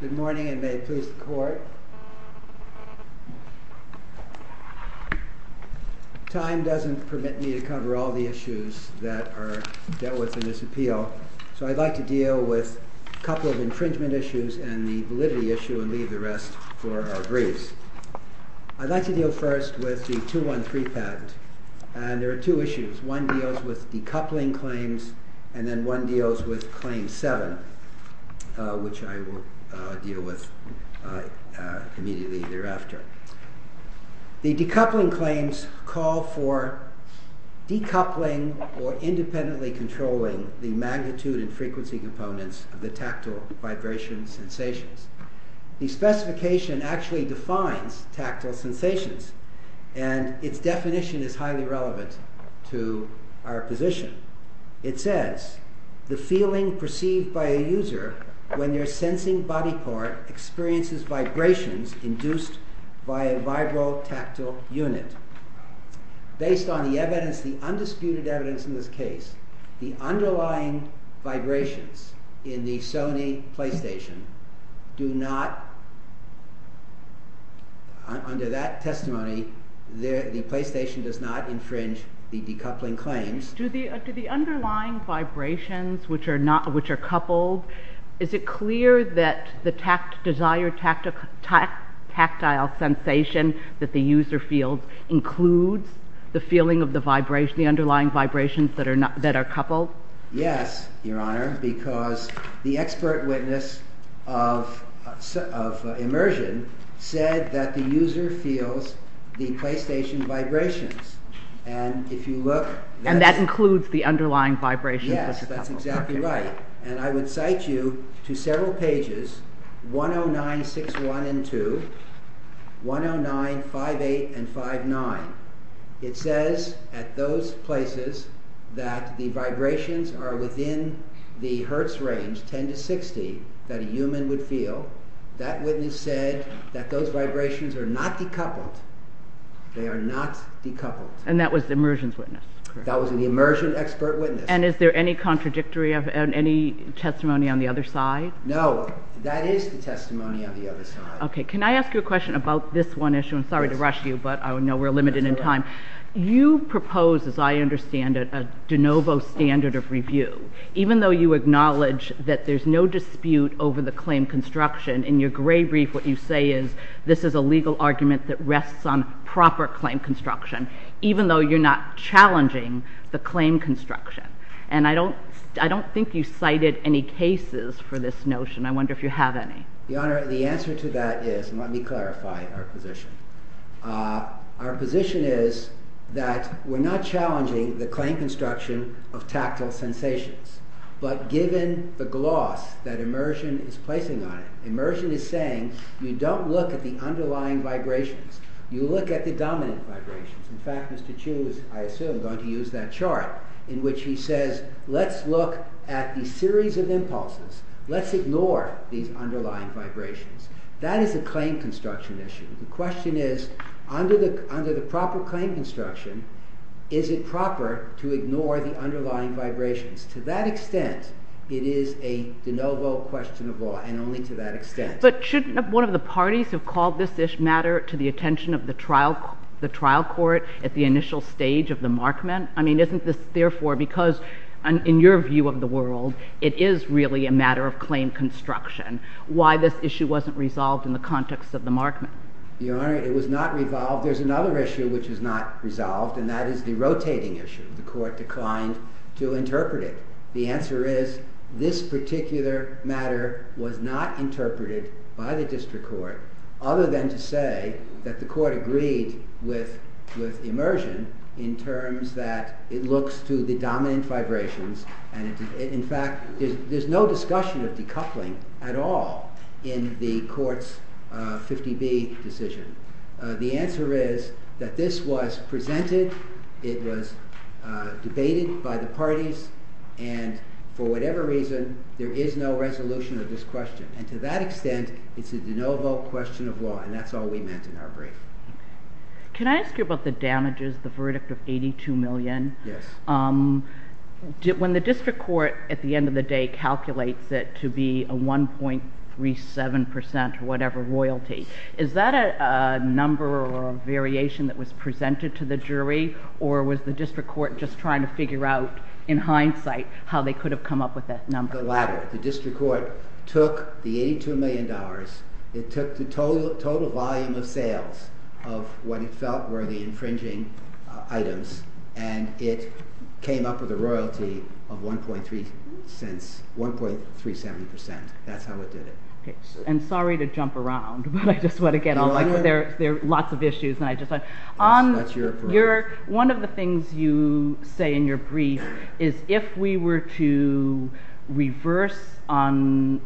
Good morning and may it please the court. Time doesn't permit me to cover all the issues that are dealt with in this appeal, so I'd like to deal with a couple of infringement issues and the validity issue and leave the rest for our briefs. I'd like to deal first with the 213 patent and there are two issues. One deals with decoupling claims and then one deals with claim 7, which I will deal with immediately thereafter. The decoupling claims call for decoupling or independently controlling the magnitude and frequency components of the tactile vibration sensations. The specification actually defines tactile sensations and its definition is highly relevant to our position. It says, the feeling perceived by a user when they're sensing body part experiences vibrations induced by a vibrotactile unit. Based on the undisputed evidence in this case, the underlying vibrations in the Sony Playstation do not, under that testimony, the Playstation does not infringe the decoupling claims. Do the underlying vibrations which are coupled, is it clear that the desired tactile sensation that the user feels includes the feeling of the underlying vibrations that are coupled? Yes, Your Honor, because the expert witness of immersion said that the user feels the Playstation vibrations and if you look... And that includes the underlying vibrations Yes, that's exactly right. And I would cite you to several pages, 10961 and 2, 10958 and 59. It says at those places that the vibrations are within the hertz range, 10 to 60, that a human would feel. That witness said that those vibrations are not decoupled. They are not decoupled. And that was the immersion's witness? That was the immersion expert witness. And is there any contradictory of any testimony on the other side? No, that is the testimony on the other side. Okay, can I ask you a question about this one issue? I'm sorry to rush you, but I know we're limited in time. You propose, as I understand it, a de novo standard of review. Even though you acknowledge that there's no dispute over the claim construction, in your gray brief what you say is, this is a legal argument that rests on proper claim construction, even though you're not challenging the claim construction. And I don't think you cited any cases for this notion. I wonder if you have any. Your Honor, the answer to that is, and let me clarify our position. Our position is that we're not challenging the claim construction of tactile sensations. But given the gloss that immersion is placing on it, immersion is saying, you don't look at the underlying vibrations. You look at the dominant vibrations. In fact, Mr. Chu is, I assume, going to use that chart, in which he says, let's look at the series of impulses. Let's ignore these underlying vibrations. That is a claim construction issue. The question is, under the proper claim construction, is it proper to ignore the underlying vibrations? To that extent, it is a de novo But shouldn't one of the parties have called this matter to the attention of the trial court at the initial stage of the markment? I mean, isn't this, therefore, because in your view of the world, it is really a matter of claim construction. Why this issue wasn't resolved in the context of the markment? Your Honor, it was not resolved. There's another issue which is not resolved, and that is the rotating issue. The court declined to interpret it. The answer is, this particular matter was not interpreted by the district court, other than to say that the court agreed with immersion in terms that it looks to the dominant vibrations, and in fact, there's no discussion of decoupling at all in the court's 50B decision. The answer is that this was presented, it was debated by the parties, and for whatever reason, there is no resolution of this question. And to that extent, it's a de novo question of law, and that's all we meant in our brief. Can I ask you about the damages, the verdict of $82 million? Yes. When the district court, at the end of the day, calculates it to be a 1.37% or whatever the jury, or was the district court just trying to figure out in hindsight how they could have come up with that number? The latter. The district court took the $82 million, it took the total volume of sales of what it felt were the infringing items, and it came up with a royalty of 1.3 cents, 1.370%. That's how it did it. And sorry to jump around, but I just want to get all, there are lots of issues. That's your approach. One of the things you say in your brief is if we were to reverse on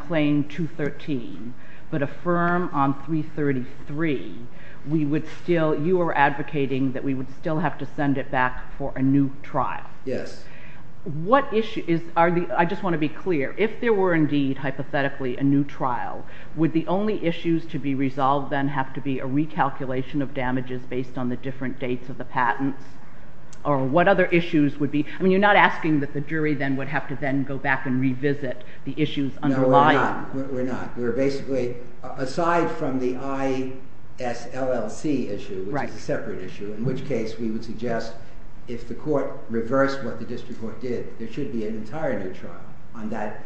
claim 213, but affirm on 333, we would still, you were advocating that we would still have to send it back for a new trial. Yes. I just want to be clear. If there were indeed, hypothetically, a new trial, would the only issues to be resolved then have to be a recalculation of damages based on the different dates of the patents? Or what other issues would be, I mean, you're not asking that the jury then would have to then go back and revisit the issues underlying. No, we're not. We're basically, aside from the ISLLC issue, which is a separate issue, in which case we would suggest if the court reversed what the district court did, there should be an entire new trial on that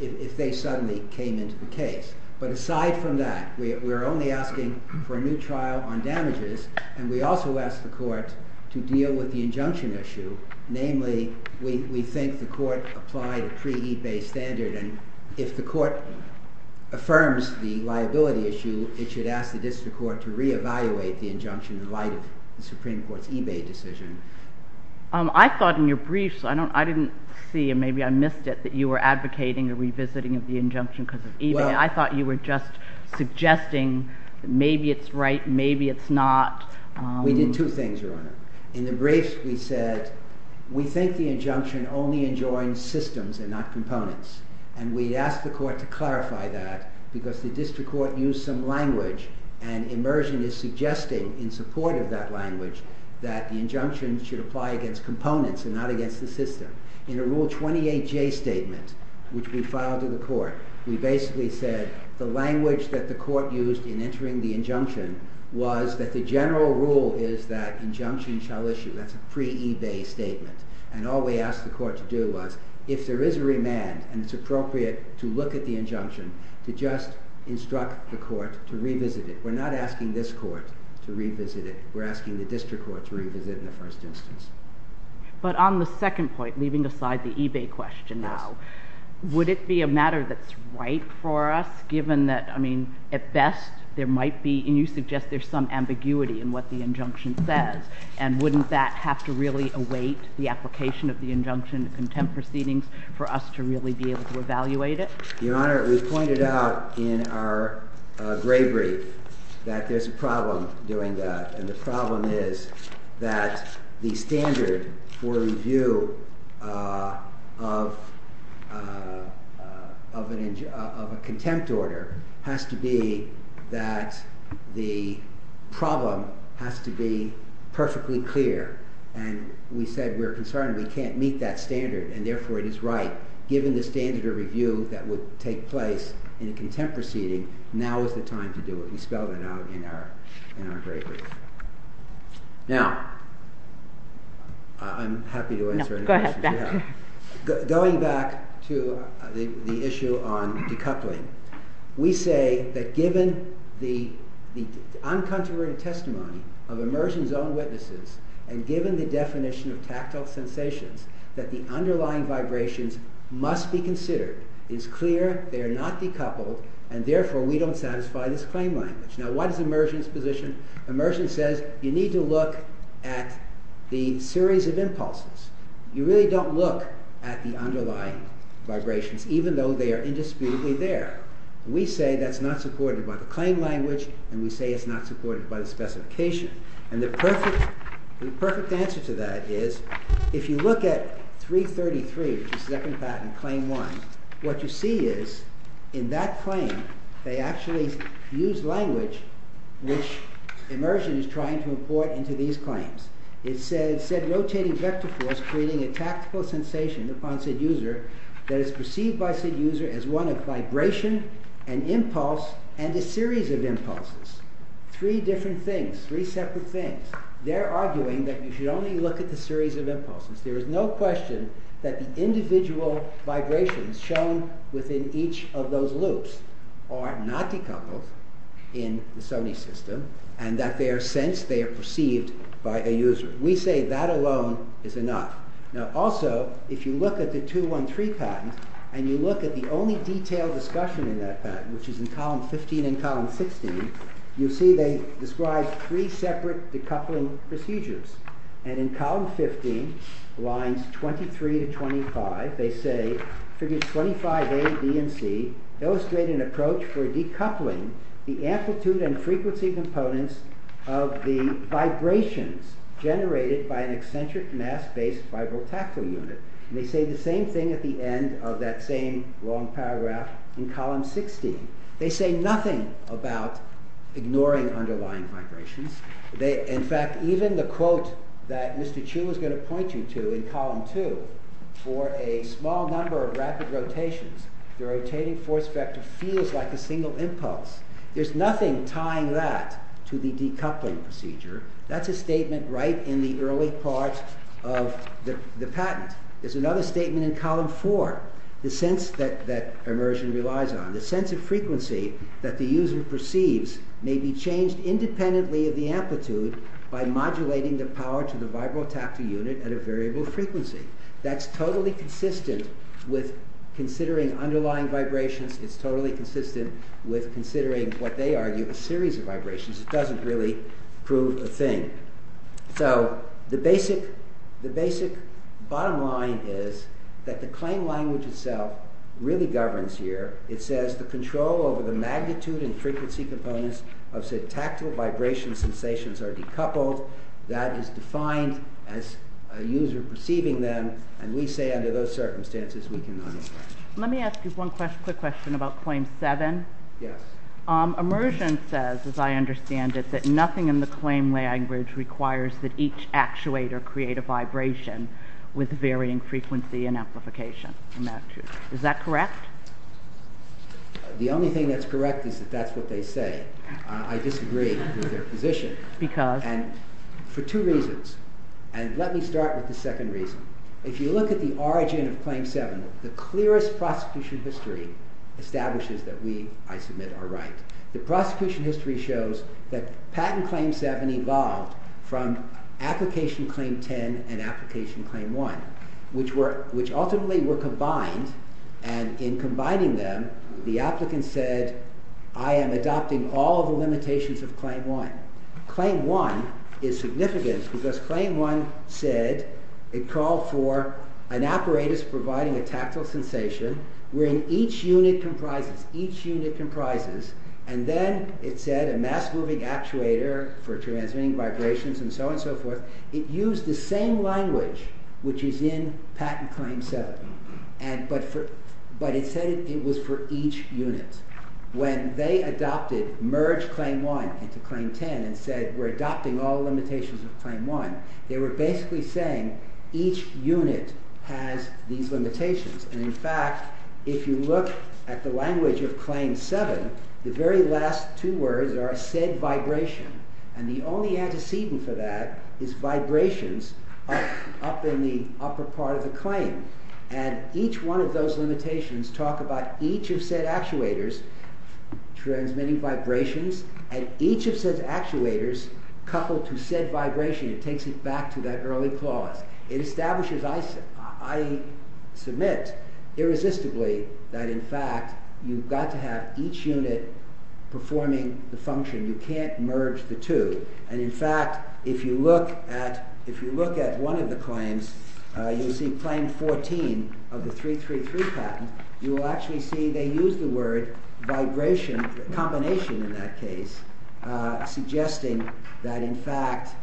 if they suddenly came into the case. But aside from that, we're only asking for a new trial on damages, and we also ask the court to deal with the injunction issue. Namely, we think the court applied a pre-ebay standard, and if the court affirms the liability issue, it should ask the district court to reevaluate the injunction in light of the Supreme Court's ebay decision. I thought in your briefs, I didn't see, and maybe I missed it, that you were advocating a revisiting of the injunction because of ebay. I thought you were just suggesting that maybe it's right, maybe it's not. We did two things, Your Honor. In the briefs, we said we think the injunction only enjoins systems and not components, and we asked the court to clarify that because the district court used some language, and immersion is suggesting in support of that language that the injunction should apply against components and not against the system. In a Rule 28J statement, which we filed to the court, we basically said the language that the court used in entering the injunction was that the general rule is that injunction shall issue. That's a pre-ebay statement, and all we asked the court to do was, if there is a remand and it's appropriate to look at the injunction, to just instruct the court to revisit it. We're not asking this court to revisit it. We're asking the district court to revisit it in the first instance. But on the second point, leaving aside the ebay question now, would it be a matter that's right for us, given that, I mean, at best, there might be, and you suggest there's some ambiguity in what the injunction says, and wouldn't that have to really await the application of the injunction to contempt proceedings for us to really be able to evaluate it? Your Honor, we pointed out in our gray brief that there's a problem doing that, and the problem is that the standard for review of a contempt order has to be that the problem has to be perfectly clear. And we said we're concerned we can't meet that standard, and therefore it is right, given the standard of review that would take place in a contempt proceeding, now is the time to do it. We spelled it out in our gray brief. Now, I'm happy to answer any questions you have. No, go ahead. Going back to the issue on decoupling, we say that given the uncontroverted testimony of Immersion's own witnesses, and given the definition of tactile sensations, that the underlying vibrations must be considered. It's clear they are not decoupled, and therefore we don't satisfy this claim language. Now, what is Immersion's position? Immersion says you need to look at the series of impulses. You really don't look at the underlying vibrations, even though they are indisputably there. We say that's not supported by the claim language, and we say it's not supported by the specification. And the perfect answer to that is, if you look at 333, which is the second patent, claim 1, what you see is, in that claim, they actually use language which Immersion is trying to import into these claims. It said, rotating vector force creating a tactile sensation upon said user that is perceived by said user as one of vibration, an impulse, and a series of impulses. Three different things, three separate things. They're arguing that you should only look at the series of impulses. There is no question that the individual vibrations shown within each of those loops are not decoupled in the Sony system, and that they are sensed, they are perceived by a user. We say that alone is enough. Now, also, if you look at the 213 patent, and you look at the only detailed discussion in that patent, which is in column 15 and column 16, you see they describe three separate decoupling procedures. And in column 15, lines 23 to 25, they say, figures 25A, B, and C, illustrate an approach for decoupling the amplitude and frequency components of the vibrations generated by an eccentric mass-based vibrotactile unit. And they say the same thing at the end of that same long paragraph in column 16. They say nothing about ignoring underlying vibrations. In fact, even the quote that Mr. Chu is going to point you to in column 2, for a small number of rapid rotations, the rotating force vector feels like a single impulse. There's nothing tying that to the decoupling procedure. That's a statement right in the early part of the patent. There's another statement in column 4, the sense that it's changed independently of the amplitude by modulating the power to the vibrotactile unit at a variable frequency. That's totally consistent with considering underlying vibrations. It's totally consistent with considering, what they argue, a series of vibrations. It doesn't really prove a thing. So, the basic bottom line is that the claim language itself really governs here. It says, the control over the magnitude and frequency components of syntactical vibration sensations are decoupled. That is defined as a user perceiving them, and we say under those circumstances, we cannot express. Let me ask you one quick question about claim 7. Immersion says, as I understand it, that nothing in the claim language requires that each actuator create a vibration with varying frequency and amplification. Is that correct? The only thing that's correct is that that's what they say. I disagree with their position. Because? For two reasons, and let me start with the second reason. If you look at the origin of claim 7, the clearest prosecution history establishes that we, I submit, are right. The prosecution history shows that patent claim 7 evolved from application claim 10 and application claim 1, which ultimately were combined, and in combining them, the applicant said, I am adopting all the limitations of claim 1. Claim 1 is significant because claim 1 said, it called for an apparatus providing a tactile sensation wherein each unit comprises, each unit comprises, and then it said a mass-moving actuator for transmitting vibrations and so on and so forth. It used the same language which is in patent claim 7, but it said it was for each unit. When they adopted, merged claim 1 into claim 10 and said, we're adopting all the limitations of claim 1, they were basically saying, each unit has these limitations. And in fact, if you look at the language of claim 7, the very last two words are said vibration, and the only antecedent for that is vibrations up in the upper part of the claim. And each one of those limitations talk about each of said actuators transmitting vibrations, and each of said actuators coupled to said vibration, it takes it back to that early clause. It establishes, I submit, irresistibly, that in fact, you've got to have each unit performing the function, you can't merge the two. And in fact, if you look at, if you look at one of the claims, you'll see claim 14 of the 333 patent, you will actually see they use the word vibration, combination in that case, suggesting that in fact,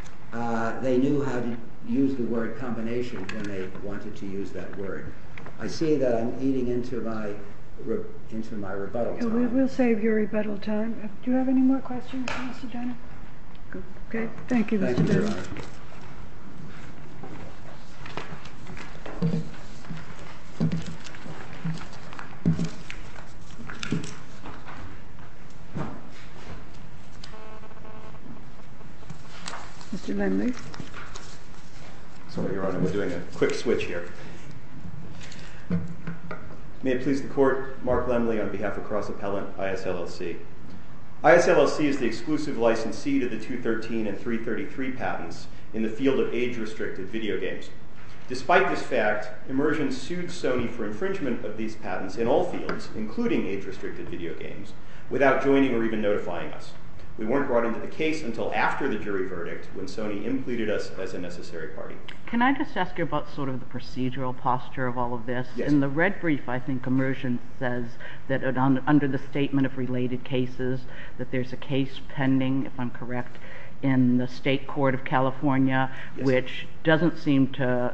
they knew how to use the word combination when they wanted to use that word. I see that I'm eating into my rebuttal time. We'll save your rebuttal time. Do you have any more questions? Okay, thank you. Mr. Lindley? Your Honor, we're doing a quick switch here. May it please the Court, Mark Lindley on behalf of Cross Appellant, ISLLC. ISLLC is the exclusive licensee to the 213 and 333 patents in the field of age-restricted video games. Despite this fact, Immersion sued Sony for infringement of these patents in all fields, including age-restricted video games, without joining or even notifying us. We weren't brought into the case until after the jury verdict, when Sony implicated us as a necessary party. Can I just ask you about sort of the procedural posture of all of this? Yes. In the red brief, I think Immersion says that under the Statement of Related Cases, that there's a case pending, if I'm correct, in the State Court of California, which doesn't seem to,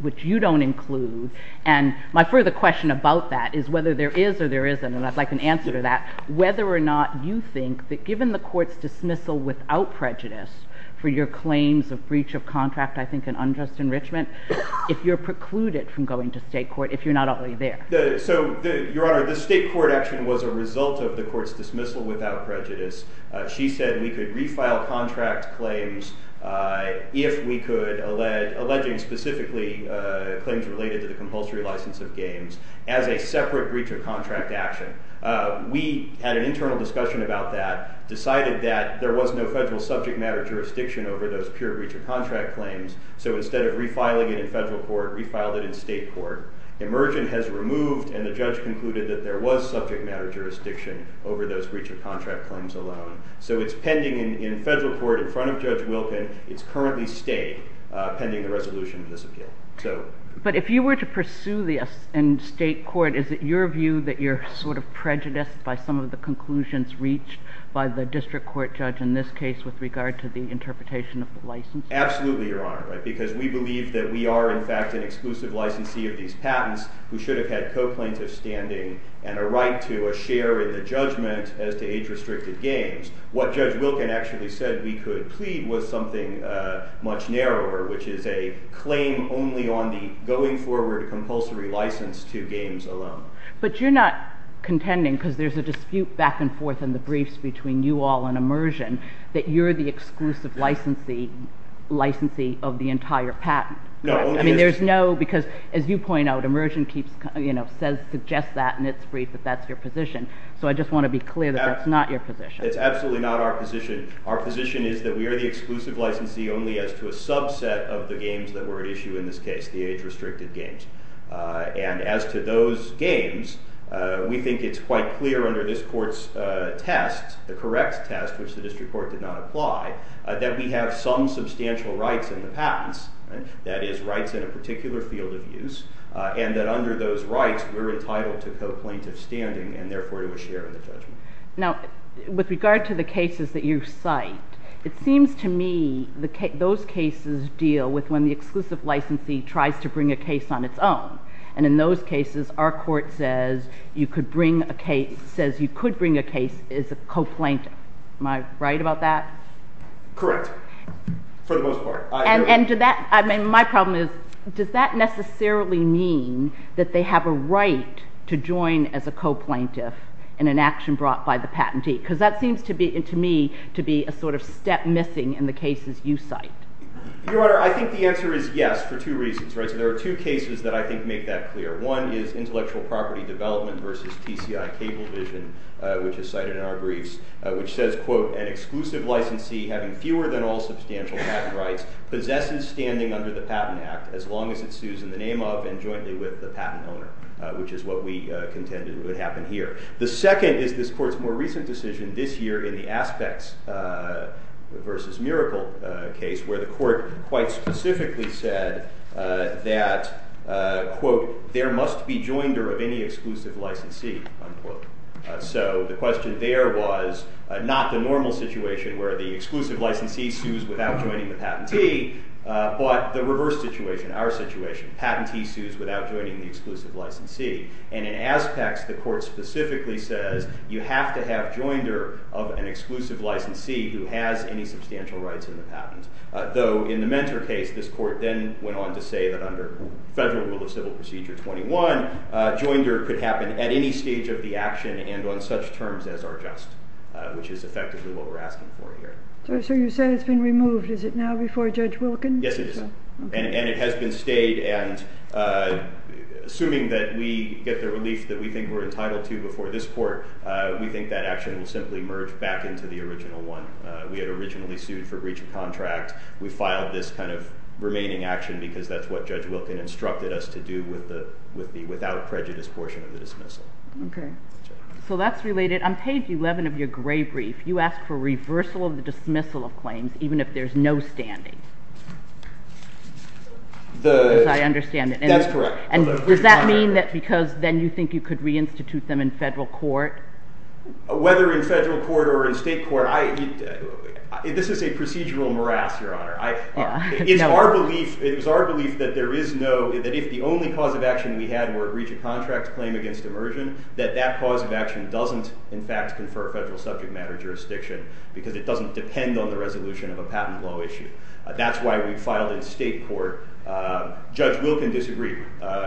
which you don't include. And my further question about that is whether there is or there isn't, and I'd like an answer to that, whether or not you think that given the Court's dismissal without prejudice for your claims of breach of contract, I think, and unjust enrichment, if you're precluded from going to state court, if you're not already there. So, Your Honor, the state court action was a result of the Court's dismissal without prejudice. She said we could refile contract claims if we could, alleging specifically claims related to the compulsory license of games, as a separate breach of contract action. We had an internal discussion about that, decided that there was no federal subject matter jurisdiction over those pure breach of contract claims, so instead of refiling it in federal court, we filed it in state court. Immersion has removed, and the judge concluded that there was subject matter jurisdiction over those breach of contract claims alone. So it's pending in federal court in front of Judge Wilkin. It's currently stayed pending the resolution of this appeal. But if you were to pursue this in state court, is it your view that you're sort of prejudiced by some of the conclusions reached by the district court judge in this case with regard to the interpretation of the license? Absolutely, Your Honor, because we believe that we are, in fact, an exclusive licensee of these patents who should have had co-plaintiffs' standing and a right to a share in the judgment as to age-restricted games. What Judge Wilkin actually said we could plead was something much narrower, which is a claim only on the going-forward compulsory license to games alone. But you're not contending, because there's a dispute back and forth in the briefs between you all and Immersion, that you're the exclusive licensee of the entire patent. No. I mean, there's no, because as you point out, Immersion suggests that in its brief that that's your position. So I just want to be clear that that's not your position. It's absolutely not our position. Our position is that we are the exclusive licensee only as to a subset of the games that were at issue in this case, the age-restricted games. And as to those games, we think it's quite clear under this Court's test, the correct test, which the district court did not apply, that we have some substantial rights in the patents, that is, rights in a particular field of use, and that under those rights we're entitled to co-plaintiffs' standing and therefore to a share in the judgment. Now, with regard to the cases that you cite, it seems to me those cases deal with when the exclusive licensee tries to bring a case on its own. And in those cases, our Court says you could bring a case as a co-plaintiff. Am I right about that? Correct. For the most part. And my problem is, does that necessarily mean that they have a right to join as a co-plaintiff in an action brought by the patentee? Because that seems to me to be a sort of step missing in the cases you cite. Your Honor, I think the answer is yes, for two reasons. There are two cases that I think make that clear. One is intellectual property development versus TCI Cablevision, which is cited in our briefs, which says, quote, an exclusive licensee having fewer than all substantial patent rights possesses standing under the Patent Act as long as it sues in the name of and jointly with the patent owner, which is what we contend would happen here. The second is this Court's more recent decision this year in the Aspects versus Miracle case, where the Court quite specifically said that, quote, there must be joinder of any exclusive licensee, unquote. So the question there was not the normal situation where the exclusive licensee sues without joining the patentee, but the reverse situation, our situation. Patentee sues without joining the exclusive licensee. And in Aspects, the Court specifically says you have to have joinder of an exclusive licensee who has any substantial rights in the patent. Though in the Mentor case, this Court then went on to say that under Federal Rule of Civil Procedure 21, joinder could happen at any stage of the action and on such terms as are just, which is effectively what we're asking for here. So you say it's been removed. Is it now before Judge Wilkins? Yes, it is. And it has been stayed. And assuming that we get the relief that we think we're entitled to before this Court, we think that action will simply merge back into the original one we had originally sued for breach of contract. We filed this kind of remaining action because that's what Judge Wilkins instructed us to do with the without prejudice portion of the dismissal. Okay. So that's related. On page 11 of your gray brief, you ask for reversal of the dismissal of claims even if there's no standing. As I understand it. That's correct. And does that mean that because then you think you could reinstitute them in Federal Court? Whether in Federal Court or in State Court, this is a procedural morass, Your Honor. It's our belief that if the only cause of action we had were a breach of contract claim against immersion, that that cause of action doesn't in fact confer Federal subject matter jurisdiction because it doesn't depend on the resolution of a patent law issue. That's why we filed in State Court. Judge Wilkins disagreed.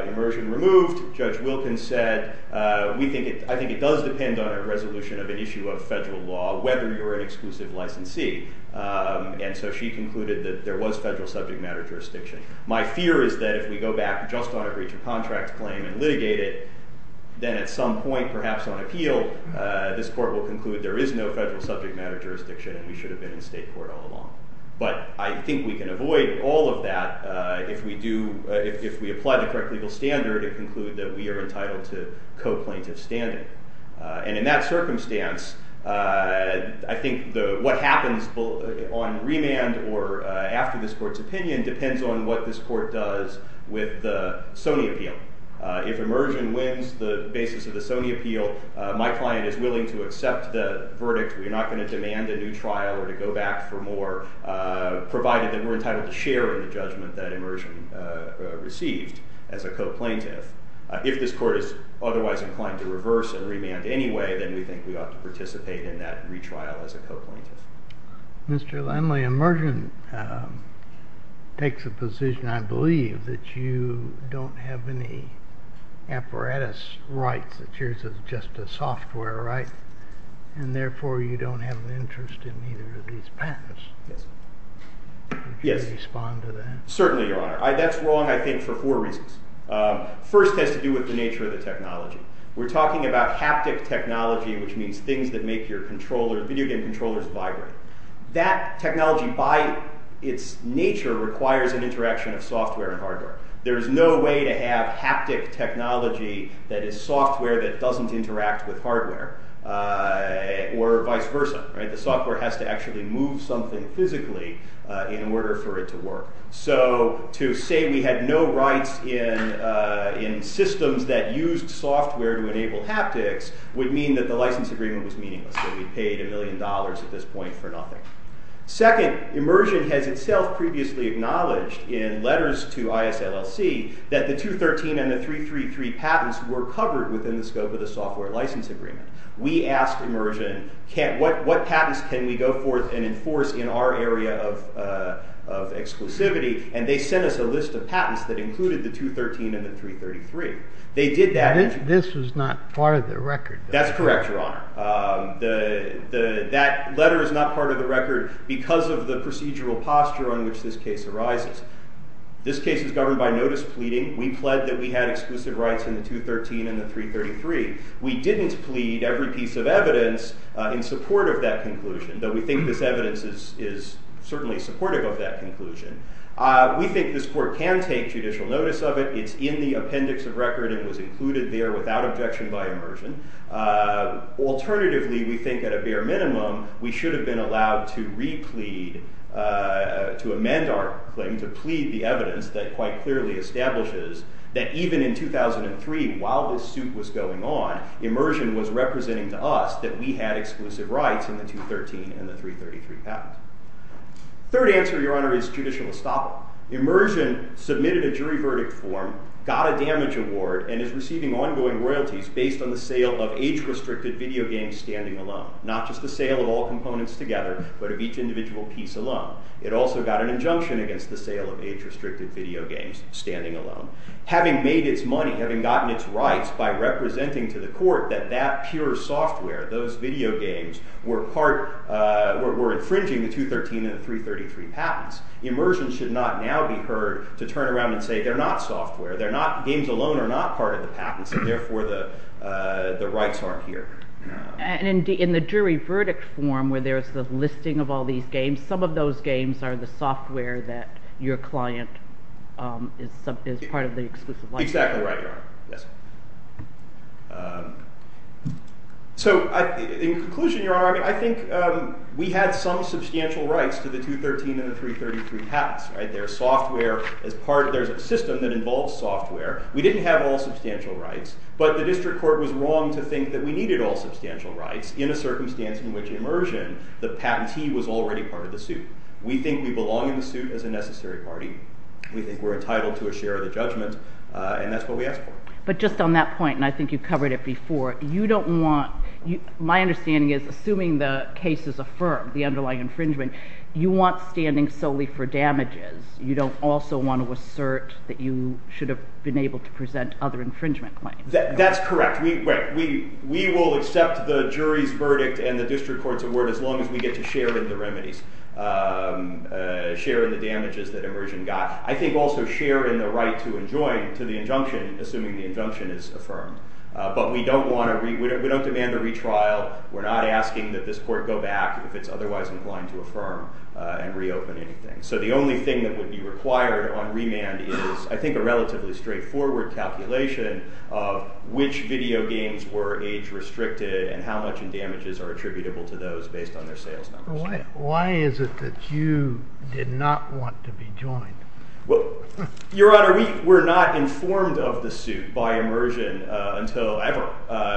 Immersion removed. Judge Wilkins said, I think it does depend on a resolution of an issue of Federal law, whether you're an exclusive licensee. And so she concluded that there was Federal subject matter jurisdiction. My fear is that if we go back just on a breach of contract claim and litigate it, then at some point, perhaps on appeal, this Court will conclude there is no Federal subject matter jurisdiction and we should have been in State Court all along. But I think we can avoid all of that if we apply the correct legal standard and conclude that we are entitled to co-plaintiff standing. And in that circumstance, I think what happens on remand or after this Court's opinion depends on what this Court does with the Sony appeal. If immersion wins the basis of the Sony appeal, my client is willing to accept the verdict. We're not going to demand a new trial or to go back for more, provided that we're entitled to share in the judgment that immersion received as a co-plaintiff. If this Court is otherwise inclined to reverse and remand anyway, then we think we ought to participate in that retrial as a co-plaintiff. Mr. Landley, immersion takes a position, I believe, that you don't have any apparatus rights, that yours is just a software right, and therefore you don't have an interest in either of these patents. Would you respond to that? Certainly, Your Honor. That's wrong, I think, for four reasons. First has to do with the nature of the technology. We're talking about haptic technology, which means things that make your video game controllers vibrate. That technology, by its nature, requires an interaction of software and hardware. There is no way to have haptic technology that is software that doesn't interact with or has to actually move something physically in order for it to work. So to say we had no rights in systems that used software to enable haptics would mean that the license agreement was meaningless, that we paid a million dollars at this point for nothing. Second, immersion has itself previously acknowledged in letters to ISLLC that the 213 and the 333 patents were covered within the scope of the software license agreement. We asked immersion, what patents can we go forth and enforce in our area of exclusivity, and they sent us a list of patents that included the 213 and the 333. This was not part of the record. That's correct, Your Honor. That letter is not part of the record because of the procedural posture on which this case arises. This case is governed by notice pleading. We pled that we had exclusive rights in the 213 and the 333. We didn't plead every piece of evidence in support of that conclusion, though we think this evidence is certainly supportive of that conclusion. We think this court can take judicial notice of it. It's in the appendix of record and was included there without objection by immersion. Alternatively, we think at a bare minimum, we should have been allowed to re-plead, to amend our claim, to plead the evidence that quite clearly establishes that even in 2003, while this suit was going on, immersion was representing to us that we had exclusive rights in the 213 and the 333 patent. Third answer, Your Honor, is judicial estoppel. Immersion submitted a jury verdict form, got a damage award, and is receiving ongoing royalties based on the sale of age-restricted video games standing alone, not just the sale of all components together, but of each individual piece alone. It also got an injunction against the sale of age-restricted video games standing alone. Having made its money, having gotten its rights by representing to the court that that pure software, those video games, were infringing the 213 and the 333 patents, immersion should not now be heard to turn around and say they're not software, games alone are not part of the patents, and therefore the rights aren't here. And in the jury verdict form where there's the listing of all these games, some of those games are the software that your client is part of the exclusive license. Exactly right, Your Honor. So in conclusion, Your Honor, I think we had some substantial rights to the 213 and the 333 patents. There's a system that involves software. We didn't have all substantial rights, but the district court was wrong to think that we needed all substantial rights in a circumstance in which immersion, the patentee was already part of the suit. We think we belong in the suit as a necessary party. We think we're entitled to a share of the judgment, and that's what we ask for. But just on that point, and I think you covered it before, you don't want— my understanding is, assuming the case is affirmed, the underlying infringement, you want standing solely for damages. You don't also want to assert that you should have been able to present other infringement claims. That's correct. We will accept the jury's verdict and the district court's award as long as we get to share in the remedies, share in the damages that immersion got. I think also share in the right to enjoin to the injunction, assuming the injunction is affirmed. But we don't demand a retrial. We're not asking that this court go back if it's otherwise inclined to affirm and reopen anything. So the only thing that would be required on remand is, I think, a relatively straightforward calculation of which video games were age-restricted and how much in damages are attributable to those based on their sales numbers. Why is it that you did not want to be joined? Your Honor, we were not informed of the suit by immersion until ever.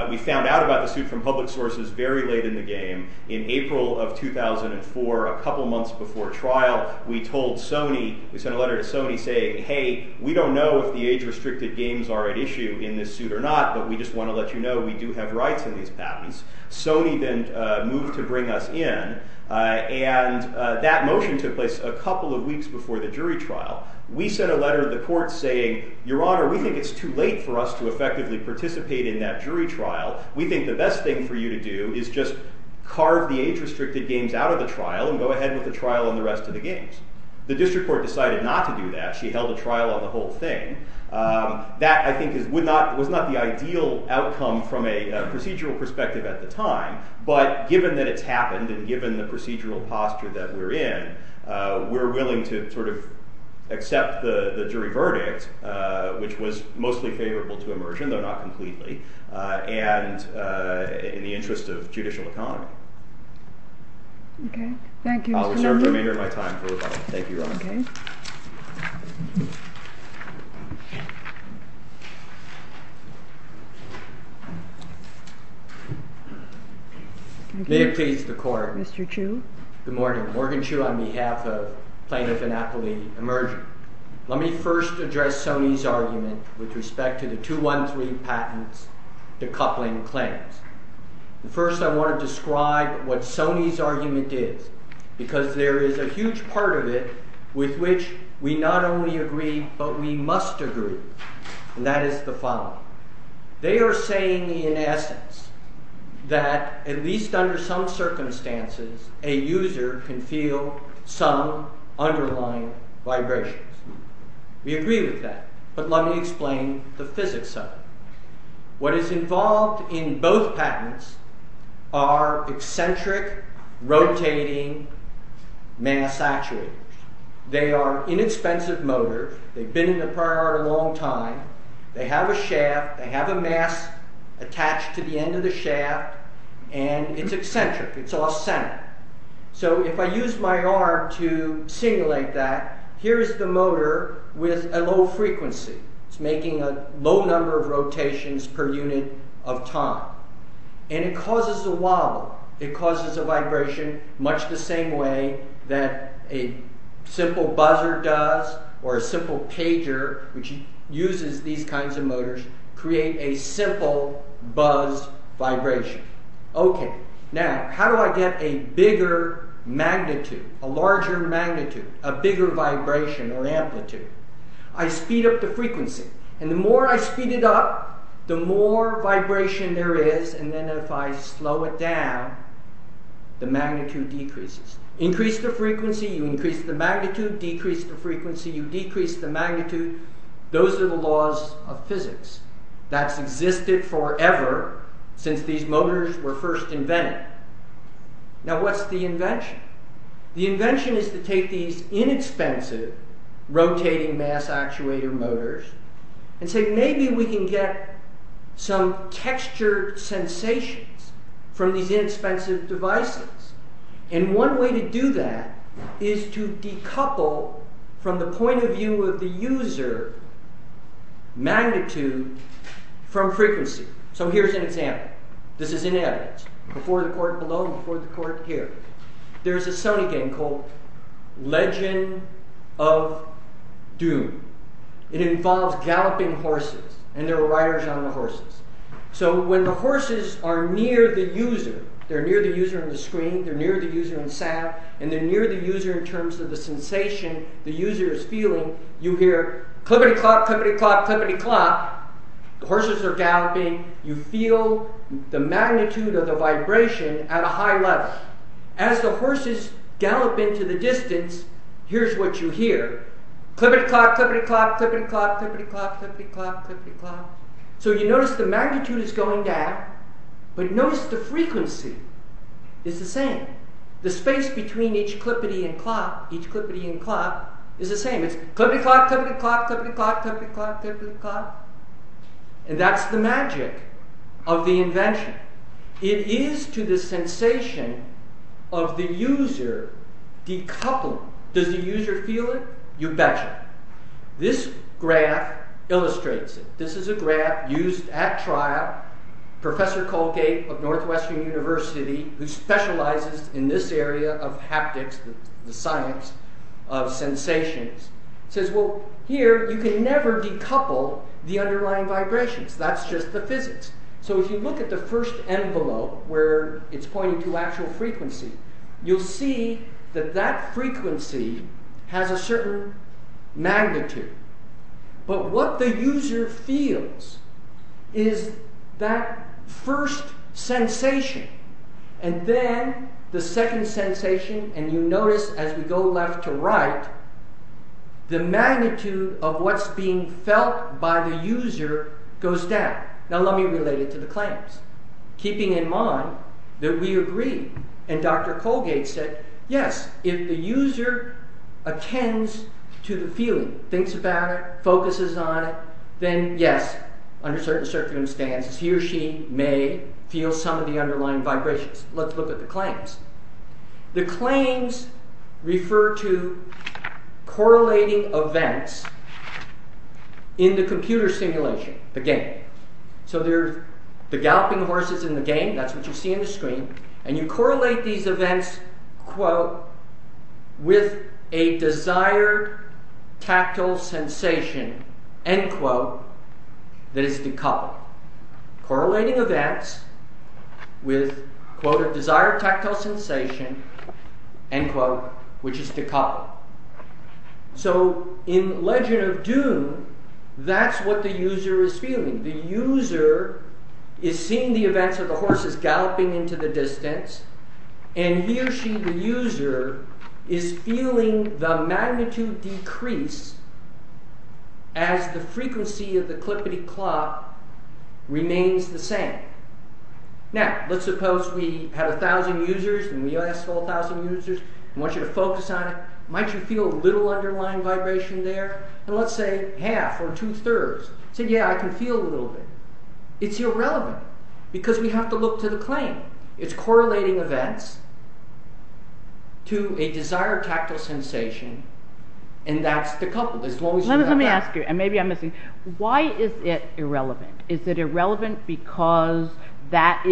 We found out about the suit from public sources very late in the game. In April of 2004, a couple months before trial, we told Sony—we sent a letter to Sony saying, hey, we don't know if the age-restricted games are at issue in this suit or not, but we just want to let you know we do have rights in these patents. Sony then moved to bring us in. And that motion took place a couple of weeks before the jury trial. We sent a letter to the court saying, Your Honor, we think it's too late for us to effectively participate in that jury trial. We think the best thing for you to do is just carve the age-restricted games out of the trial and go ahead with the trial and the rest of the games. The district court decided not to do that. She held a trial on the whole thing. That, I think, was not the ideal outcome from a procedural perspective at the time, but given that it's happened and given the procedural posture that we're in, we're willing to sort of accept the jury verdict, which was mostly favorable to immersion, though not completely, and in the interest of judicial economy. Okay. Thank you. I'll reserve the remainder of my time for rebuttal. Thank you, Your Honor. Okay. May it please the Court. Mr. Chu. Good morning. Morgan Chu on behalf of plaintiff Annapolis Immersion. Let me first address Sony's argument with respect to the 213 patents decoupling claims. First, I want to describe what Sony's argument is, because there is a huge part of it with which we not only agree, but we must agree, and that is the following. They are saying, in essence, that at least under some circumstances, a user can feel some underlying vibrations. We agree with that, but let me explain the physics of it. What is involved in both patents are eccentric rotating mass actuators. They are inexpensive motors. They've been in the prior art a long time. They have a shaft. They have a mass attached to the end of the shaft, and it's eccentric. It's all centered. So if I use my arm to simulate that, here is the motor with a low frequency. It's making a low number of rotations per unit of time, and it causes a wobble. It causes a vibration much the same way that a simple buzzer does or a simple pager, which uses these kinds of motors, create a simple buzz vibration. Okay. Now, how do I get a bigger magnitude, a larger magnitude, a bigger vibration or amplitude? I speed up the frequency, and the more I speed it up, the more vibration there is, and then if I slow it down, the magnitude decreases. Increase the frequency, you increase the magnitude. Decrease the frequency, you decrease the magnitude. Those are the laws of physics. That's existed forever since these motors were first invented. Now, what's the invention? The invention is to take these inexpensive rotating mass actuator motors and say maybe we can get some textured sensations from these inexpensive devices, and one way to do that is to decouple from the point of view of the user magnitude from frequency. So here's an example. This is in evidence. Before the court below, before the court here. There's a Sony game called Legend of Doom. It involves galloping horses, and there are riders on the horses. So when the horses are near the user, they're near the user on the screen, they're near the user on the sound, and they're near the user in terms of the sensation the user is feeling, you hear clippity-clop, clippity-clop, clippity-clop. The horses are galloping. You feel the magnitude of the vibration at a high level. As the horses gallop into the distance, here's what you hear. Clippity-clop, clippity-clop, clippity-clop, clippity-clop, clippity-clop, clippity-clop. So you notice the magnitude is going down, but notice the frequency is the same. The space between each clippity and clop, each clippity and clop, is the same. It's clippity-clop, clippity-clop, clippity-clop, clippity-clop, clippity-clop. And that's the magic of the invention. It is to the sensation of the user decoupled. Does the user feel it? You betcha. This graph illustrates it. This is a graph used at trial. Professor Colgate of Northwestern University, who specializes in this area of haptics, the science of sensations, says, well, here you can never decouple the underlying vibrations. That's just the physics. So if you look at the first envelope, where it's pointing to actual frequency, you'll see that that frequency has a certain magnitude. But what the user feels is that first sensation, and then the second sensation, and you notice as we go left to right, the magnitude of what's being felt by the user goes down. Now let me relate it to the claims, keeping in mind that we agree. And Dr. Colgate said, yes, if the user attends to the feeling, thinks about it, focuses on it, then yes, under certain circumstances, he or she may feel some of the underlying vibrations. Let's look at the claims. The claims refer to correlating events in the computer simulation, the game. So there's the galloping horses in the game, that's what you see on the screen, and you correlate these events, quote, with a desired tactile sensation, end quote, that is decoupled. Correlating events with, quote, a desired tactile sensation, end quote, which is decoupled. So in Legend of Doom, that's what the user is feeling. The user is seeing the events of the horses galloping into the distance, and he or she, the user, is feeling the magnitude decrease as the frequency of the clippity-clop remains the same. Now, let's suppose we have a thousand users, and we ask for a thousand users, and want you to focus on it. Might you feel a little underlying vibration there? And let's say half, or two-thirds. Say, yeah, I can feel a little bit. It's irrelevant, because we have to look to the claim. It's correlating events to a desired tactile sensation, and that's decoupled. Let me ask you, and maybe I'm missing. Why is it irrelevant? Is it irrelevant because that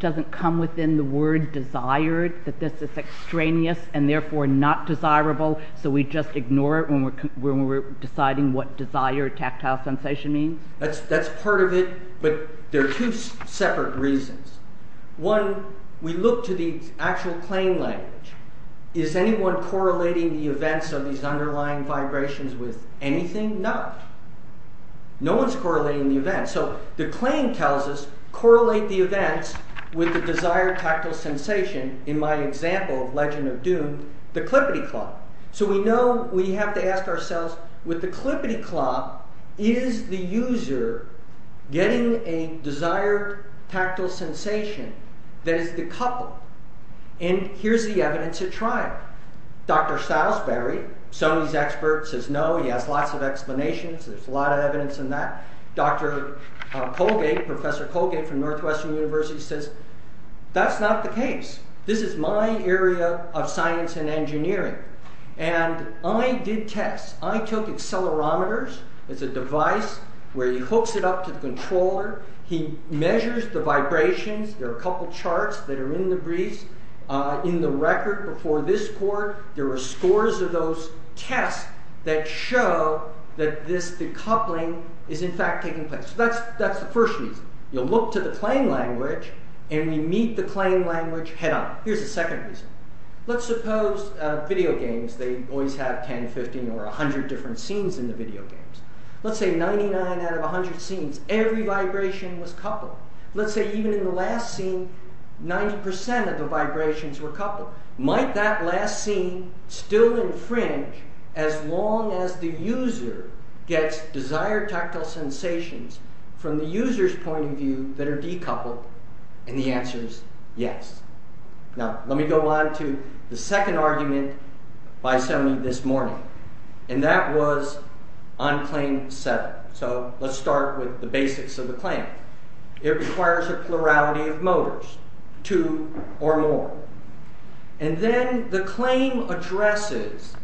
doesn't come within the word desired, that this is extraneous, and therefore not desirable, so we just ignore it when we're deciding what desired tactile sensation means? That's part of it, but there are two separate reasons. One, we look to the actual claim language. Is anyone correlating the events of these underlying vibrations with anything? No. No one's correlating the events. So the claim tells us, correlate the events with the desired tactile sensation, in my example of Legend of Doom, the clippity-clop. So we know we have to ask ourselves, with the clippity-clop, is the user getting a desired tactile sensation that is decoupled? And here's the evidence at trial. Dr. Salisbury, Sony's expert, says no. He has lots of explanations. There's a lot of evidence in that. Dr. Colgate, Professor Colgate from Northwestern University says, that's not the case. This is my area of science and engineering. And I did tests. I took accelerometers. It's a device where he hooks it up to the controller. He measures the vibrations. There are a couple charts that are in the briefs. In the record before this court, there were scores of those tests that show that this decoupling is in fact taking place. That's the first reason. You look to the claim language, and we meet the claim language head-on. Here's the second reason. Let's suppose video games, they always have 10, 15, or 100 different scenes in the video games. Let's say 99 out of 100 scenes, every vibration was coupled. Let's say even in the last scene, 90% of the vibrations were coupled. Might that last scene still infringe as long as the user gets desired tactile sensations from the user's point of view that are decoupled? And the answer is yes. Now, let me go on to the second argument by Semmy this morning. And that was on claim 7. So let's start with the basics of the claim. It requires a plurality of motors. Two or more. And then the claim addresses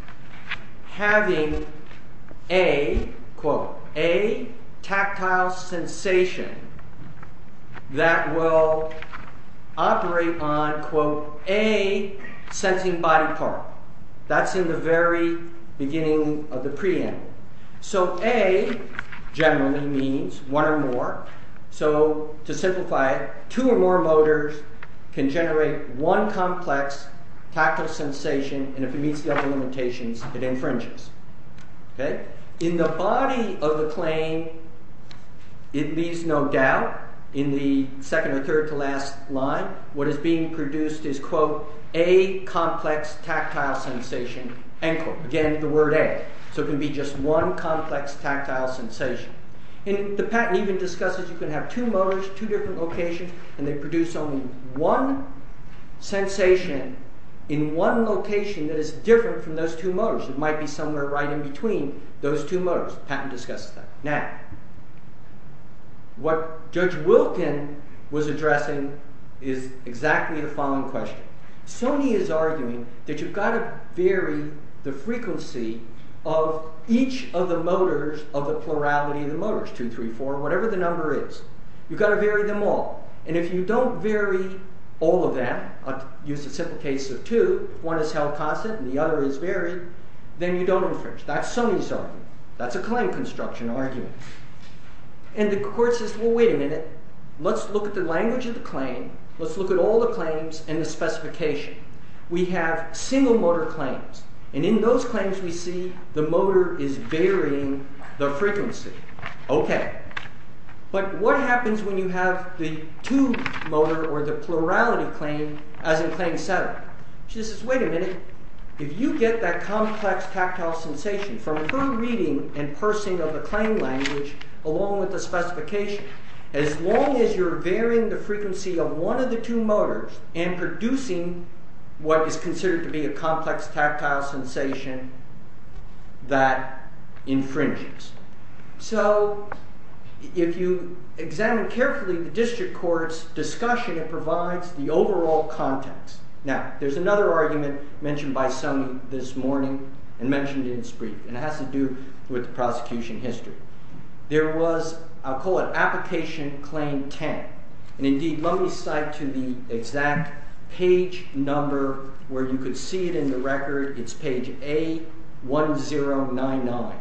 having a, quote, a tactile sensation that will operate on, quote, a sensing body part. That's in the very beginning of the preamble. So a generally means one or more. So to simplify it, two or more motors can generate one complex tactile sensation and if it meets the other limitations, it infringes. In the body of the claim, it leaves no doubt, in the second or third to last line, what is being produced is, quote, a complex tactile sensation. Again, the word a. So it can be just one complex tactile sensation. And the patent even discusses you can have two motors, two different locations, and they produce only one sensation in one location that is different from those two motors. It might be somewhere right in between those two motors. The patent discusses that. Now, what Judge Wilkin was addressing is exactly the following question. Sony is arguing that you've got to vary the frequency of each of the motors of the plurality of the motors, two, three, four, whatever the number is. You've got to vary them all. And if you don't vary all of them, I'll use a simple case of two, one is held constant and the other is varied, then you don't infringe. That's Sony's argument. That's a claim construction argument. And the court says, well, wait a minute. Let's look at the language of the claim. Let's look at all the claims and the specification. We have single motor claims. And in those claims we see the motor is varying the frequency. Okay. But what happens when you have the two motor or the plurality claim as in claim seven? She says, wait a minute. If you get that complex tactile sensation from her reading and parsing of the claim language along with the specification, as long as you're varying the frequency of one of the two motors and producing what is considered to be a complex tactile sensation that infringes. So, if you examine carefully the district court's discussion, it provides the overall context. Now, there's another argument mentioned by Sony this morning and mentioned in its brief and it has to do with the prosecution history. There was, I'll call it application claim 10. And indeed, let me cite to the exact page number where you could see it in the record. It's page A1099.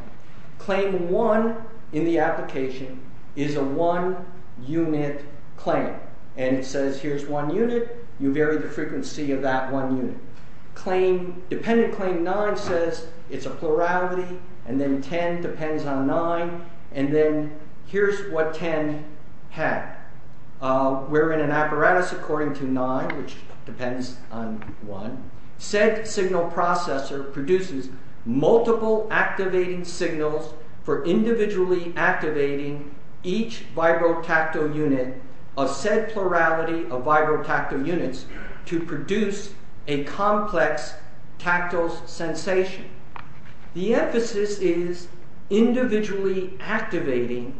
Claim one in the application is a one unit claim. And it says, here's one unit. You vary the frequency of that one unit. Dependent claim nine says it's a plurality. And then 10 depends on nine. And then here's what 10 had. We're in an apparatus according to nine, which depends on one. Said signal processor produces multiple activating signals for individually activating each vibrotactile unit of said plurality of vibrotactile units to produce a complex tactile sensation. The emphasis is individually activating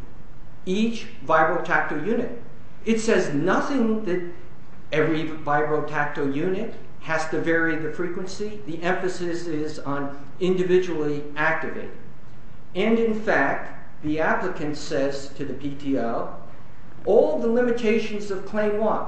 each vibrotactile unit. It says nothing that every vibrotactile unit has to vary the frequency. The emphasis is on individually activating. And in fact, the applicant says to the PTO, all the limitations of claim one.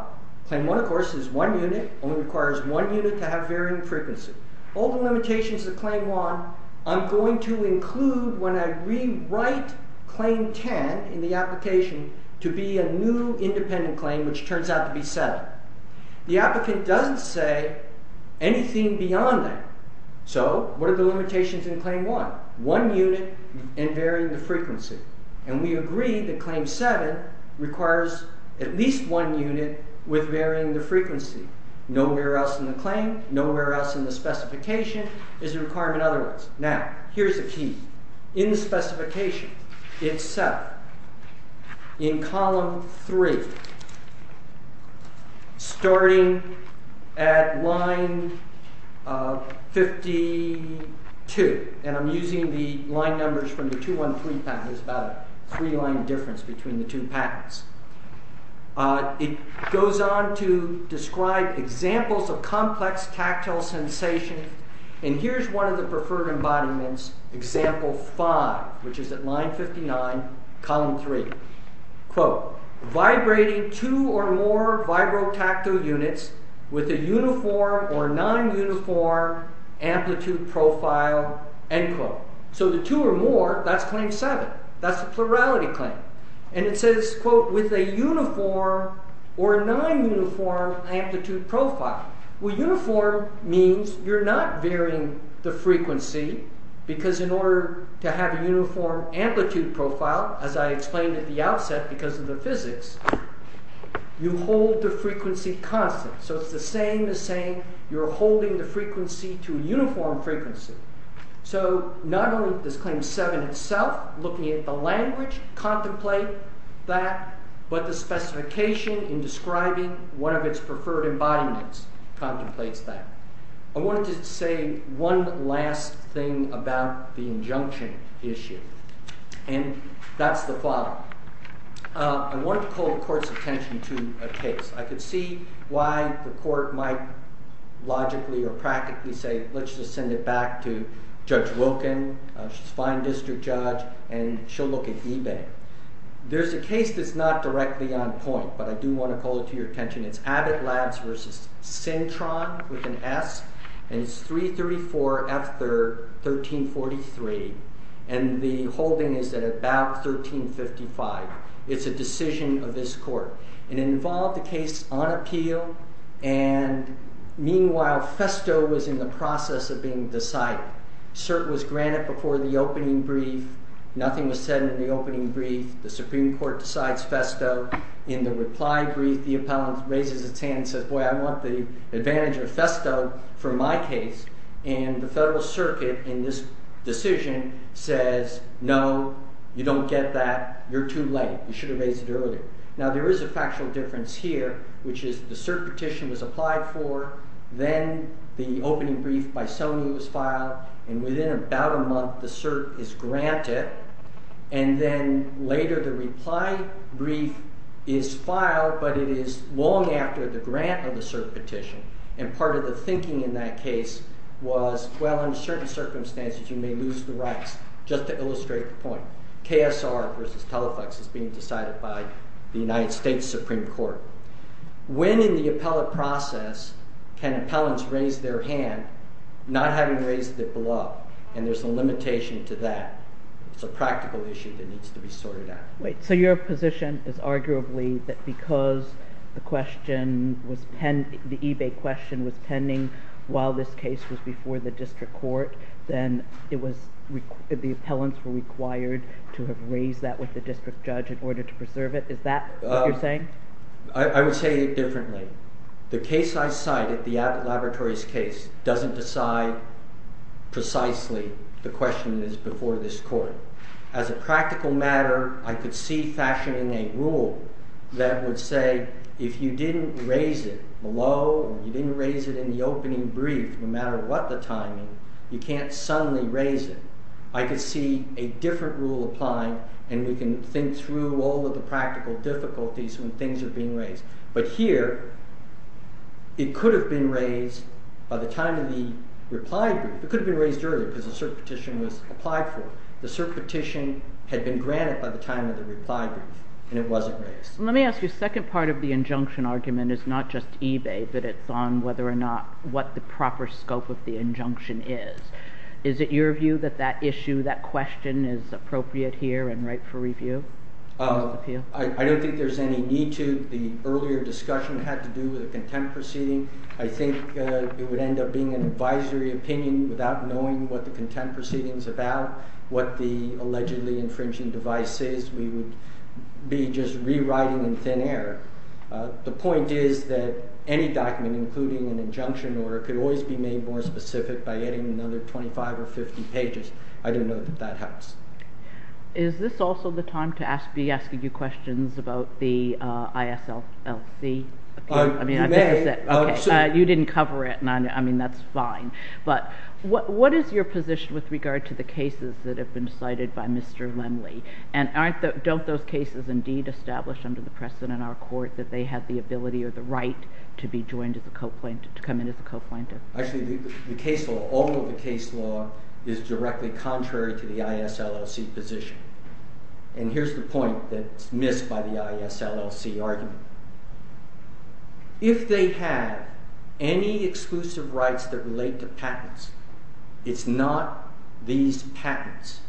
Claim one, of course, is one unit, only requires one unit to have varying frequency. All the limitations of claim one, I'm going to include when I rewrite claim 10 in the application to be a new independent claim, which turns out to be seven. The applicant doesn't say anything beyond that. So what are the limitations in claim one? One unit and varying the frequency. at least one unit with varying the frequency. Nowhere else in the claim, nowhere else in the specification is a requirement otherwise. Now, here's the key. In the specification itself, in column three, starting at line 52, and I'm using the line numbers from the 213 patent, there's about a three-line difference between the two patents. It goes on to describe examples of complex tactile sensations, and here's one of the preferred embodiments, example five, which is at line 59, column three. Quote, vibrating two or more vibrotactile units with a uniform or non-uniform amplitude profile, end quote. So the two or more, that's claim seven. That's the plurality claim. And it says, quote, with a uniform or non-uniform amplitude profile. Well, uniform means you're not varying the frequency, because in order to have a uniform amplitude profile, as I explained at the outset because of the physics, you hold the frequency constant. So it's the same as saying you're holding the frequency to a uniform frequency. So not only does claim seven itself, looking at the language, contemplate that, but the specification in describing one of its preferred embodiments contemplates that. I wanted to say one last thing about the injunction issue, and that's the following. I wanted to call the court's attention to a case. I could see why the court might logically or practically say, let's just send it back to Judge Wilkin. She's a fine district judge, and she'll look at eBay. There's a case that's not directly on point, but I do want to call it to your attention. It's Abbott Labs versus Cintron with an S, and it's 334 F3rd 1343, and the holding is at about 1355. It's a decision of this court. It involved a case on appeal, and meanwhile Festo was in the process of being decided. Cert was granted before the opening brief. Nothing was said in the opening brief. The Supreme Court decides Festo. In the reply brief, the appellant raises its hand and says, boy, I want the advantage of Festo for my case, and the federal circuit in this decision says, no, you don't get that. You're too late. You should have raised it earlier. Now there is a factual difference here, which is the cert petition was applied for, then the opening brief by Sony was filed, and within about a month the cert is granted, and then later the reply brief is filed, but it is long after the grant of the cert petition, and part of the thinking in that case was, well, in certain circumstances you may lose the rights, just to illustrate the point. KSR versus Telfax is being decided by the United States Supreme Court. When in the appellate process can appellants raise their hand, not having raised their glove, and there's a limitation to that, it's a practical issue that needs to be sorted out. Wait. So your position is arguably that because the eBay question was pending while this case was before the district court, then the appellants were required to have raised that with the district judge in order to preserve it? Is that what you're saying? I would say it differently. The case I cited, the Abbott Laboratories case, doesn't decide precisely the question that is before this court. As a practical matter, I could see fashioning a rule that would say if you didn't raise it below or you didn't raise it in the opening brief, no matter what the timing, you can't suddenly raise it. I could see a different rule applying, and we can think through all of the practical difficulties when things are being raised. But here, it could have been raised by the time of the reply brief. It could have been raised earlier because the cert petition was applied for. The cert petition had been granted by the time of the reply brief, and it wasn't raised. Let me ask you, the second part of the injunction argument is not just eBay, but it's on whether or not what the proper scope of the injunction is. Is it your view that that issue, that question, is appropriate here and right for review? I don't think there's any need to. The earlier discussion had to do with the contempt proceeding. I think it would end up being an advisory opinion without knowing what the contempt proceeding is about, what the allegedly infringing device is. We would be just rewriting in thin air. The point is that any document, including an injunction order, could always be made more specific by adding another 25 or 50 pages. I don't know that that helps. Is this also the time to be asking you questions about the ISLC? You didn't cover it, and that's fine. But what is your position with regard to the cases that have been cited by Mr. Lemley? Don't those cases indeed establish under the precedent in our court that they had the ability or the right to be joined as a co-plaintiff, to come in as a co-plaintiff? Actually, all of the case law is directly contrary to the ISLLC position. And here's the point that's missed by the ISLLC argument. If they have any exclusive rights that relate to patents, it's not these patents,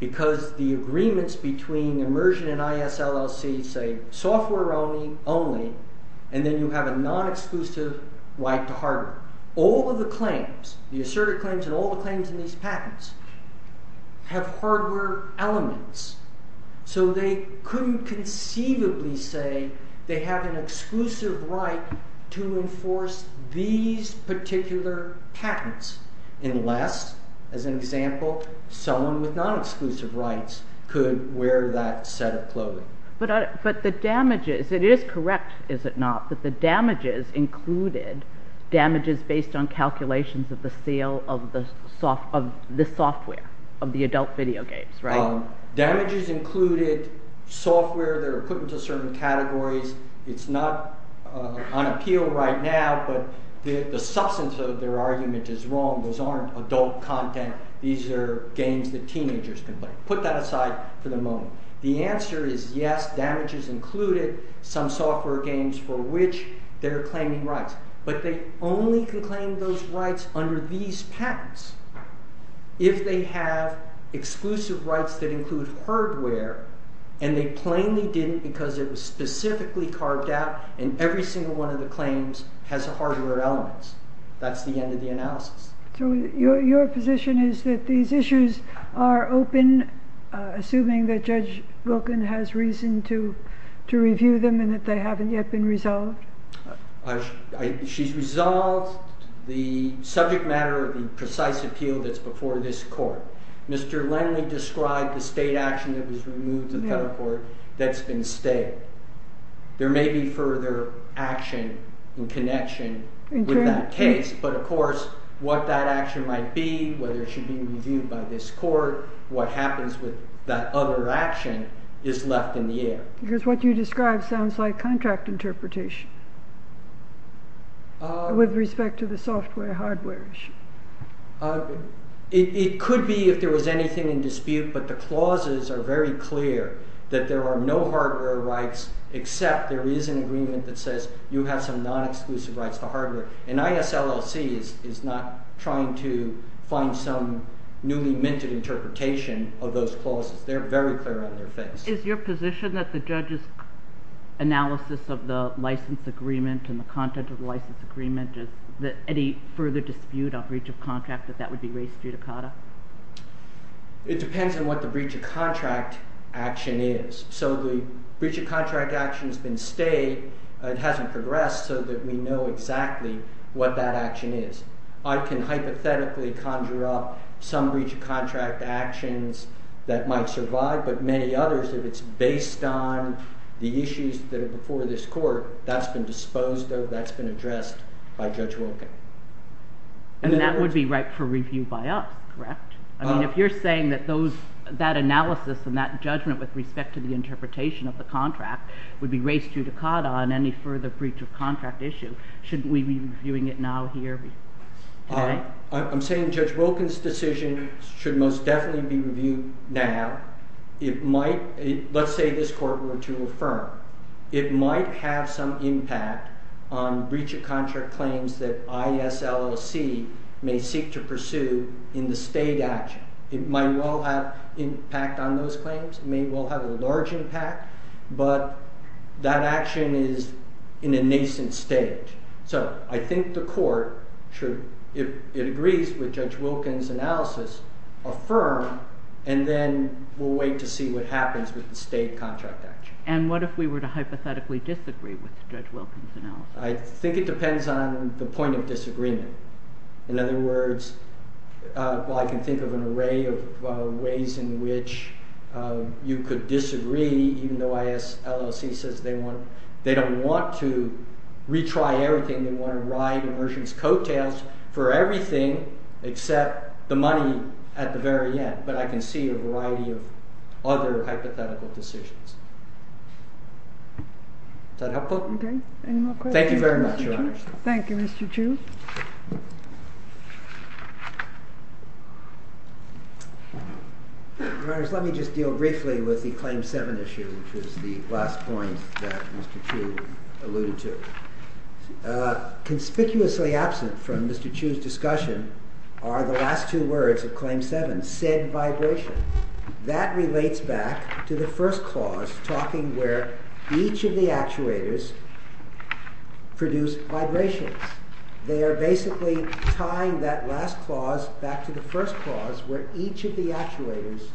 because the agreements between Immersion and ISLLC say, software only, and then you have a non-exclusive right to hardware. All of the claims, the asserted claims and all the claims in these patents, have hardware elements. So they couldn't conceivably say they have an exclusive right to enforce these particular patents, unless, as an example, someone with non-exclusive rights could wear that set of clothing. But the damages, it is correct, is it not, that the damages included damages based on calculations of the sale of the software of the adult video games, right? Damages included software that are put into certain categories. It's not on appeal right now, but the substance of their argument is wrong. Those aren't adult content. These are games that teenagers can play. Put that aside for the moment. The answer is yes, damages included, some software games for which they're claiming rights. But they only can claim those rights under these patents if they have exclusive rights that include hardware, and they plainly didn't because it was specifically carved out and every single one of the claims has hardware elements. That's the end of the analysis. So your position is that these issues are open, assuming that Judge Wilkin has reason to review them and that they haven't yet been resolved? She's resolved the subject matter of the precise appeal that's before this court. Mr. Lendley described the state action that was removed in federal court that's been stayed. There may be further action in connection with that case, but, of course, what that action might be, whether it should be reviewed by this court, what happens with that other action is left in the air. Because what you described sounds like contract interpretation with respect to the software-hardware issue. It could be if there was anything in dispute, but the clauses are very clear that there are no hardware rights except there is an agreement that says you have some non-exclusive rights to hardware. And ISLLC is not trying to find some newly-minted interpretation of those clauses. They're very clear on their face. Is your position that the judge's analysis of the license agreement and the content of the license agreement is that any further dispute on breach of contract, that that would be raised judicata? It depends on what the breach of contract action is. So the breach of contract action has been stayed. It hasn't progressed so that we know exactly what that action is. I can hypothetically conjure up some breach of contract actions that might survive, but many others, if it's based on the issues that are before this court, that's been disposed of, that's been addressed by Judge Wilken. And that would be right for review by us, correct? I mean, if you're saying that those... that analysis and that judgment with respect to the interpretation of the contract would be raised judicata on any further breach of contract issue, shouldn't we be reviewing it now here? I'm saying Judge Wilken's decision should most definitely be reviewed now. It might... let's say this court were to affirm. It might have some impact on breach of contract claims that ISLLC may seek to pursue in the state action. It might well have impact on those claims. It may well have a large impact. But that action is in a nascent state. So I think the court should, if it agrees with Judge Wilken's analysis, affirm and then we'll wait to see what happens with the state contract action. And what if we were to hypothetically disagree with Judge Wilken's analysis? I think it depends on the point of disagreement. In other words, well, I can think of an array of ways in which you could disagree even though ISLLC says they don't want to retry everything. They want to ride immersion's coattails for everything except the money at the very end. But I can see a variety of other hypothetical decisions. Is that helpful? Okay. Any more questions? Thank you very much, Your Honor. Thank you, Mr. Chu. Your Honors, let me just deal briefly with the Claim 7 issue, which was the last point that Mr. Chu alluded to. Conspicuously absent from Mr. Chu's discussion are the last two words of Claim 7, said vibration. That relates back to the first clause talking where each of the actuators produce vibrations. They are basically tying that last clause back to the first clause where each of the actuators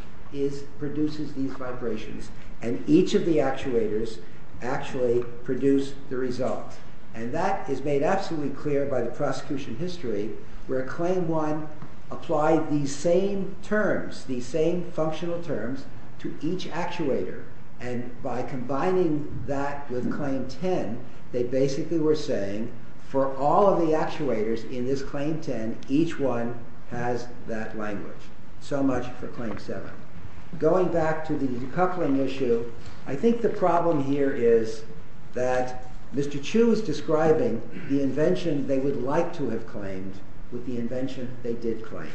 produces these vibrations and each of the actuators actually produce the result. And that is made absolutely clear by the prosecution history where Claim 1 applied these same terms, these same functional terms to each actuator. And by combining that with Claim 10, they basically were saying for all of the actuators in this Claim 10, each one has that language. So much for Claim 7. Going back to the decoupling issue, I think the problem here is that Mr. Chu is describing the invention they would like to have claimed with the invention they did claim.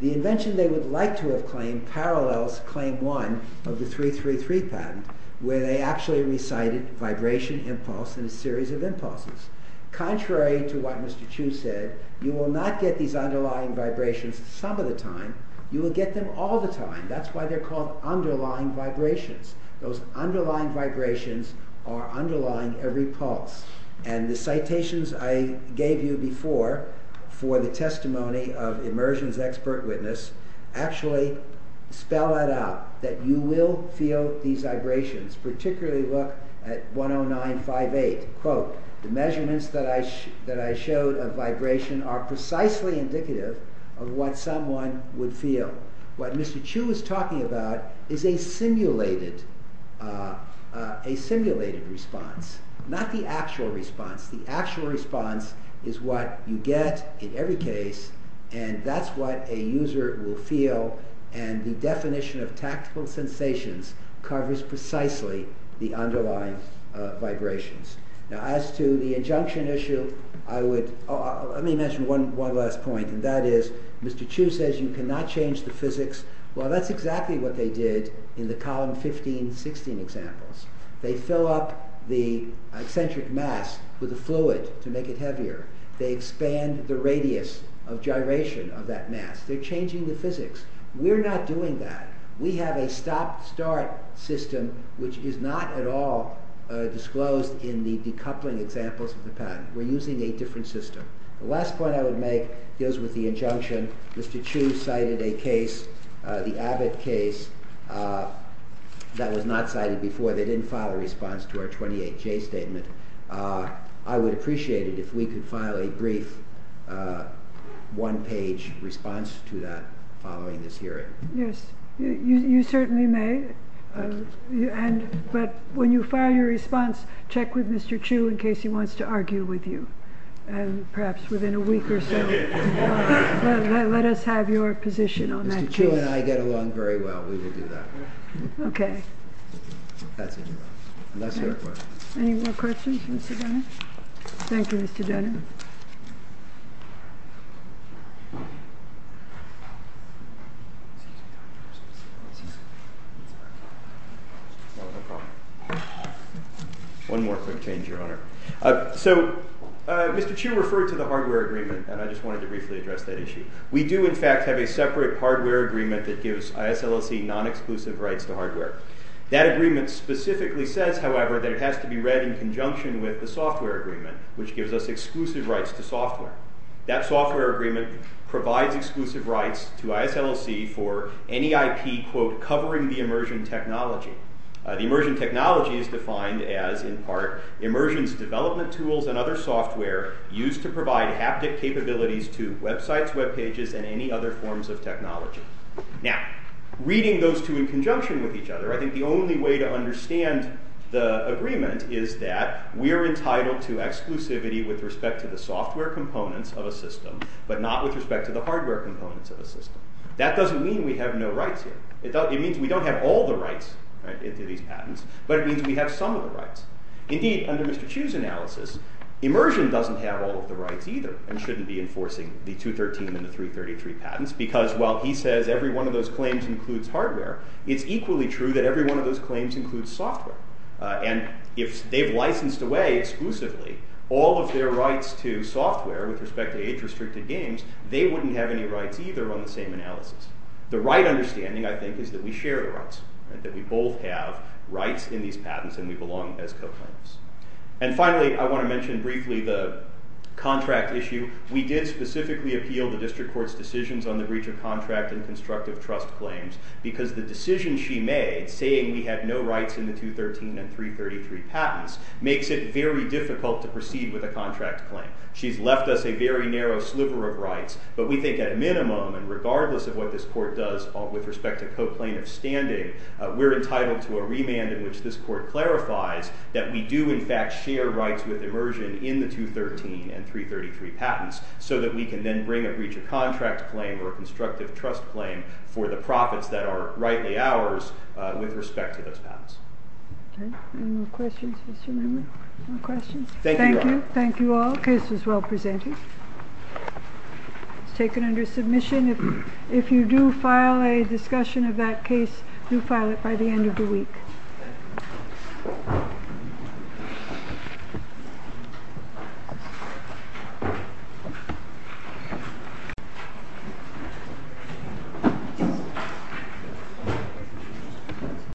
The invention they would like to have claimed parallels Claim 1 of the 333 patent where they actually recited vibration, impulse, and a series of impulses. Contrary to what Mr. Chu said, you will not get these underlying vibrations some of the time, you will get them all the time. That's why they are called underlying vibrations. Those underlying vibrations are underlying every pulse. And the citations I gave you before for the testimony of immersion's expert witness actually spell that out, that you will feel these vibrations, particularly look at 10958. The measurements that I showed of vibration are precisely indicative of what someone would feel. What Mr. Chu is talking about is a simulated response, not the actual response. The actual response is what you get in every case and that's what a user will feel and the definition of tactical sensations covers precisely the underlying vibrations. Now as to the injunction issue, let me mention one last point, and that is Mr. Chu says you cannot change the physics. Well, that's exactly what they did in the column 15, 16 examples. They fill up the eccentric mass with a fluid to make it heavier. They expand the radius of gyration of that mass. They're changing the physics. We're not doing that. We have a stop-start system which is not at all disclosed in the decoupling examples of the patent. We're using a different system. The last point I would make deals with the injunction. Mr. Chu cited a case, the Abbott case, that was not cited before. They didn't file a response to our 28J statement. I would appreciate it if we could file a brief, one-page response to that following this hearing. Yes, you certainly may, but when you file your response, check with Mr. Chu in case he wants to argue with you, perhaps within a week or so. Let us have your position on that case. Mr. Chu and I get along very well. We will do that. Okay. That's it. Unless there are questions. Any more questions, Mr. Dennett? Thank you, Mr. Dennett. No, no problem. One more quick change, Your Honor. So, Mr. Chu referred to the hardware agreement, and I just wanted to briefly address that issue. We do, in fact, have a separate hardware agreement that gives ISLLC non-exclusive rights to hardware. That agreement specifically says, however, that it has to be read in conjunction with the software agreement, which gives us exclusive rights to software. That software agreement provides exclusive rights to ISLC for any IP, quote, covering the Immersion technology. The Immersion technology is defined as, in part, Immersion's development tools and other software used to provide haptic capabilities to websites, webpages, and any other forms of technology. Now, reading those two in conjunction with each other, I think the only way to understand the agreement is that we are entitled to exclusivity with respect to the software components of a system, but not with respect to the hardware components of a system. That doesn't mean we have no rights here. It means we don't have all the rights to these patents, but it means we have some of the rights. Indeed, under Mr. Chu's analysis, Immersion doesn't have all of the rights either and shouldn't be enforcing the 213 and the 333 patents because while he says every one of those claims includes hardware, it's equally true that every one of those claims includes software. And if they've licensed away exclusively all of their rights to software with respect to age-restricted games, they wouldn't have any rights either on the same analysis. The right understanding, I think, is that we share the rights, that we both have rights in these patents and we belong as co-claimants. And finally, I want to mention briefly the contract issue. We did specifically appeal the district court's decisions on the breach of contract and constructive trust claims because the decision she made, saying we have no rights in the 213 and 333 patents, makes it very difficult to proceed with a contract claim. She's left us a very narrow sliver of rights, but we think at minimum and regardless of what this court does with respect to co-claim of standing, we're entitled to a remand in which this court clarifies that we do in fact share rights with Immersion in the 213 and 333 patents so that we can then bring a breach of contract claim or a constructive trust claim for the profits that are rightly ours with respect to those patents. Any more questions, Mr. Member? No questions? Thank you. Thank you all. The case was well presented. It was taken under submission. If you do file a discussion of that case, do file it by the end of the week.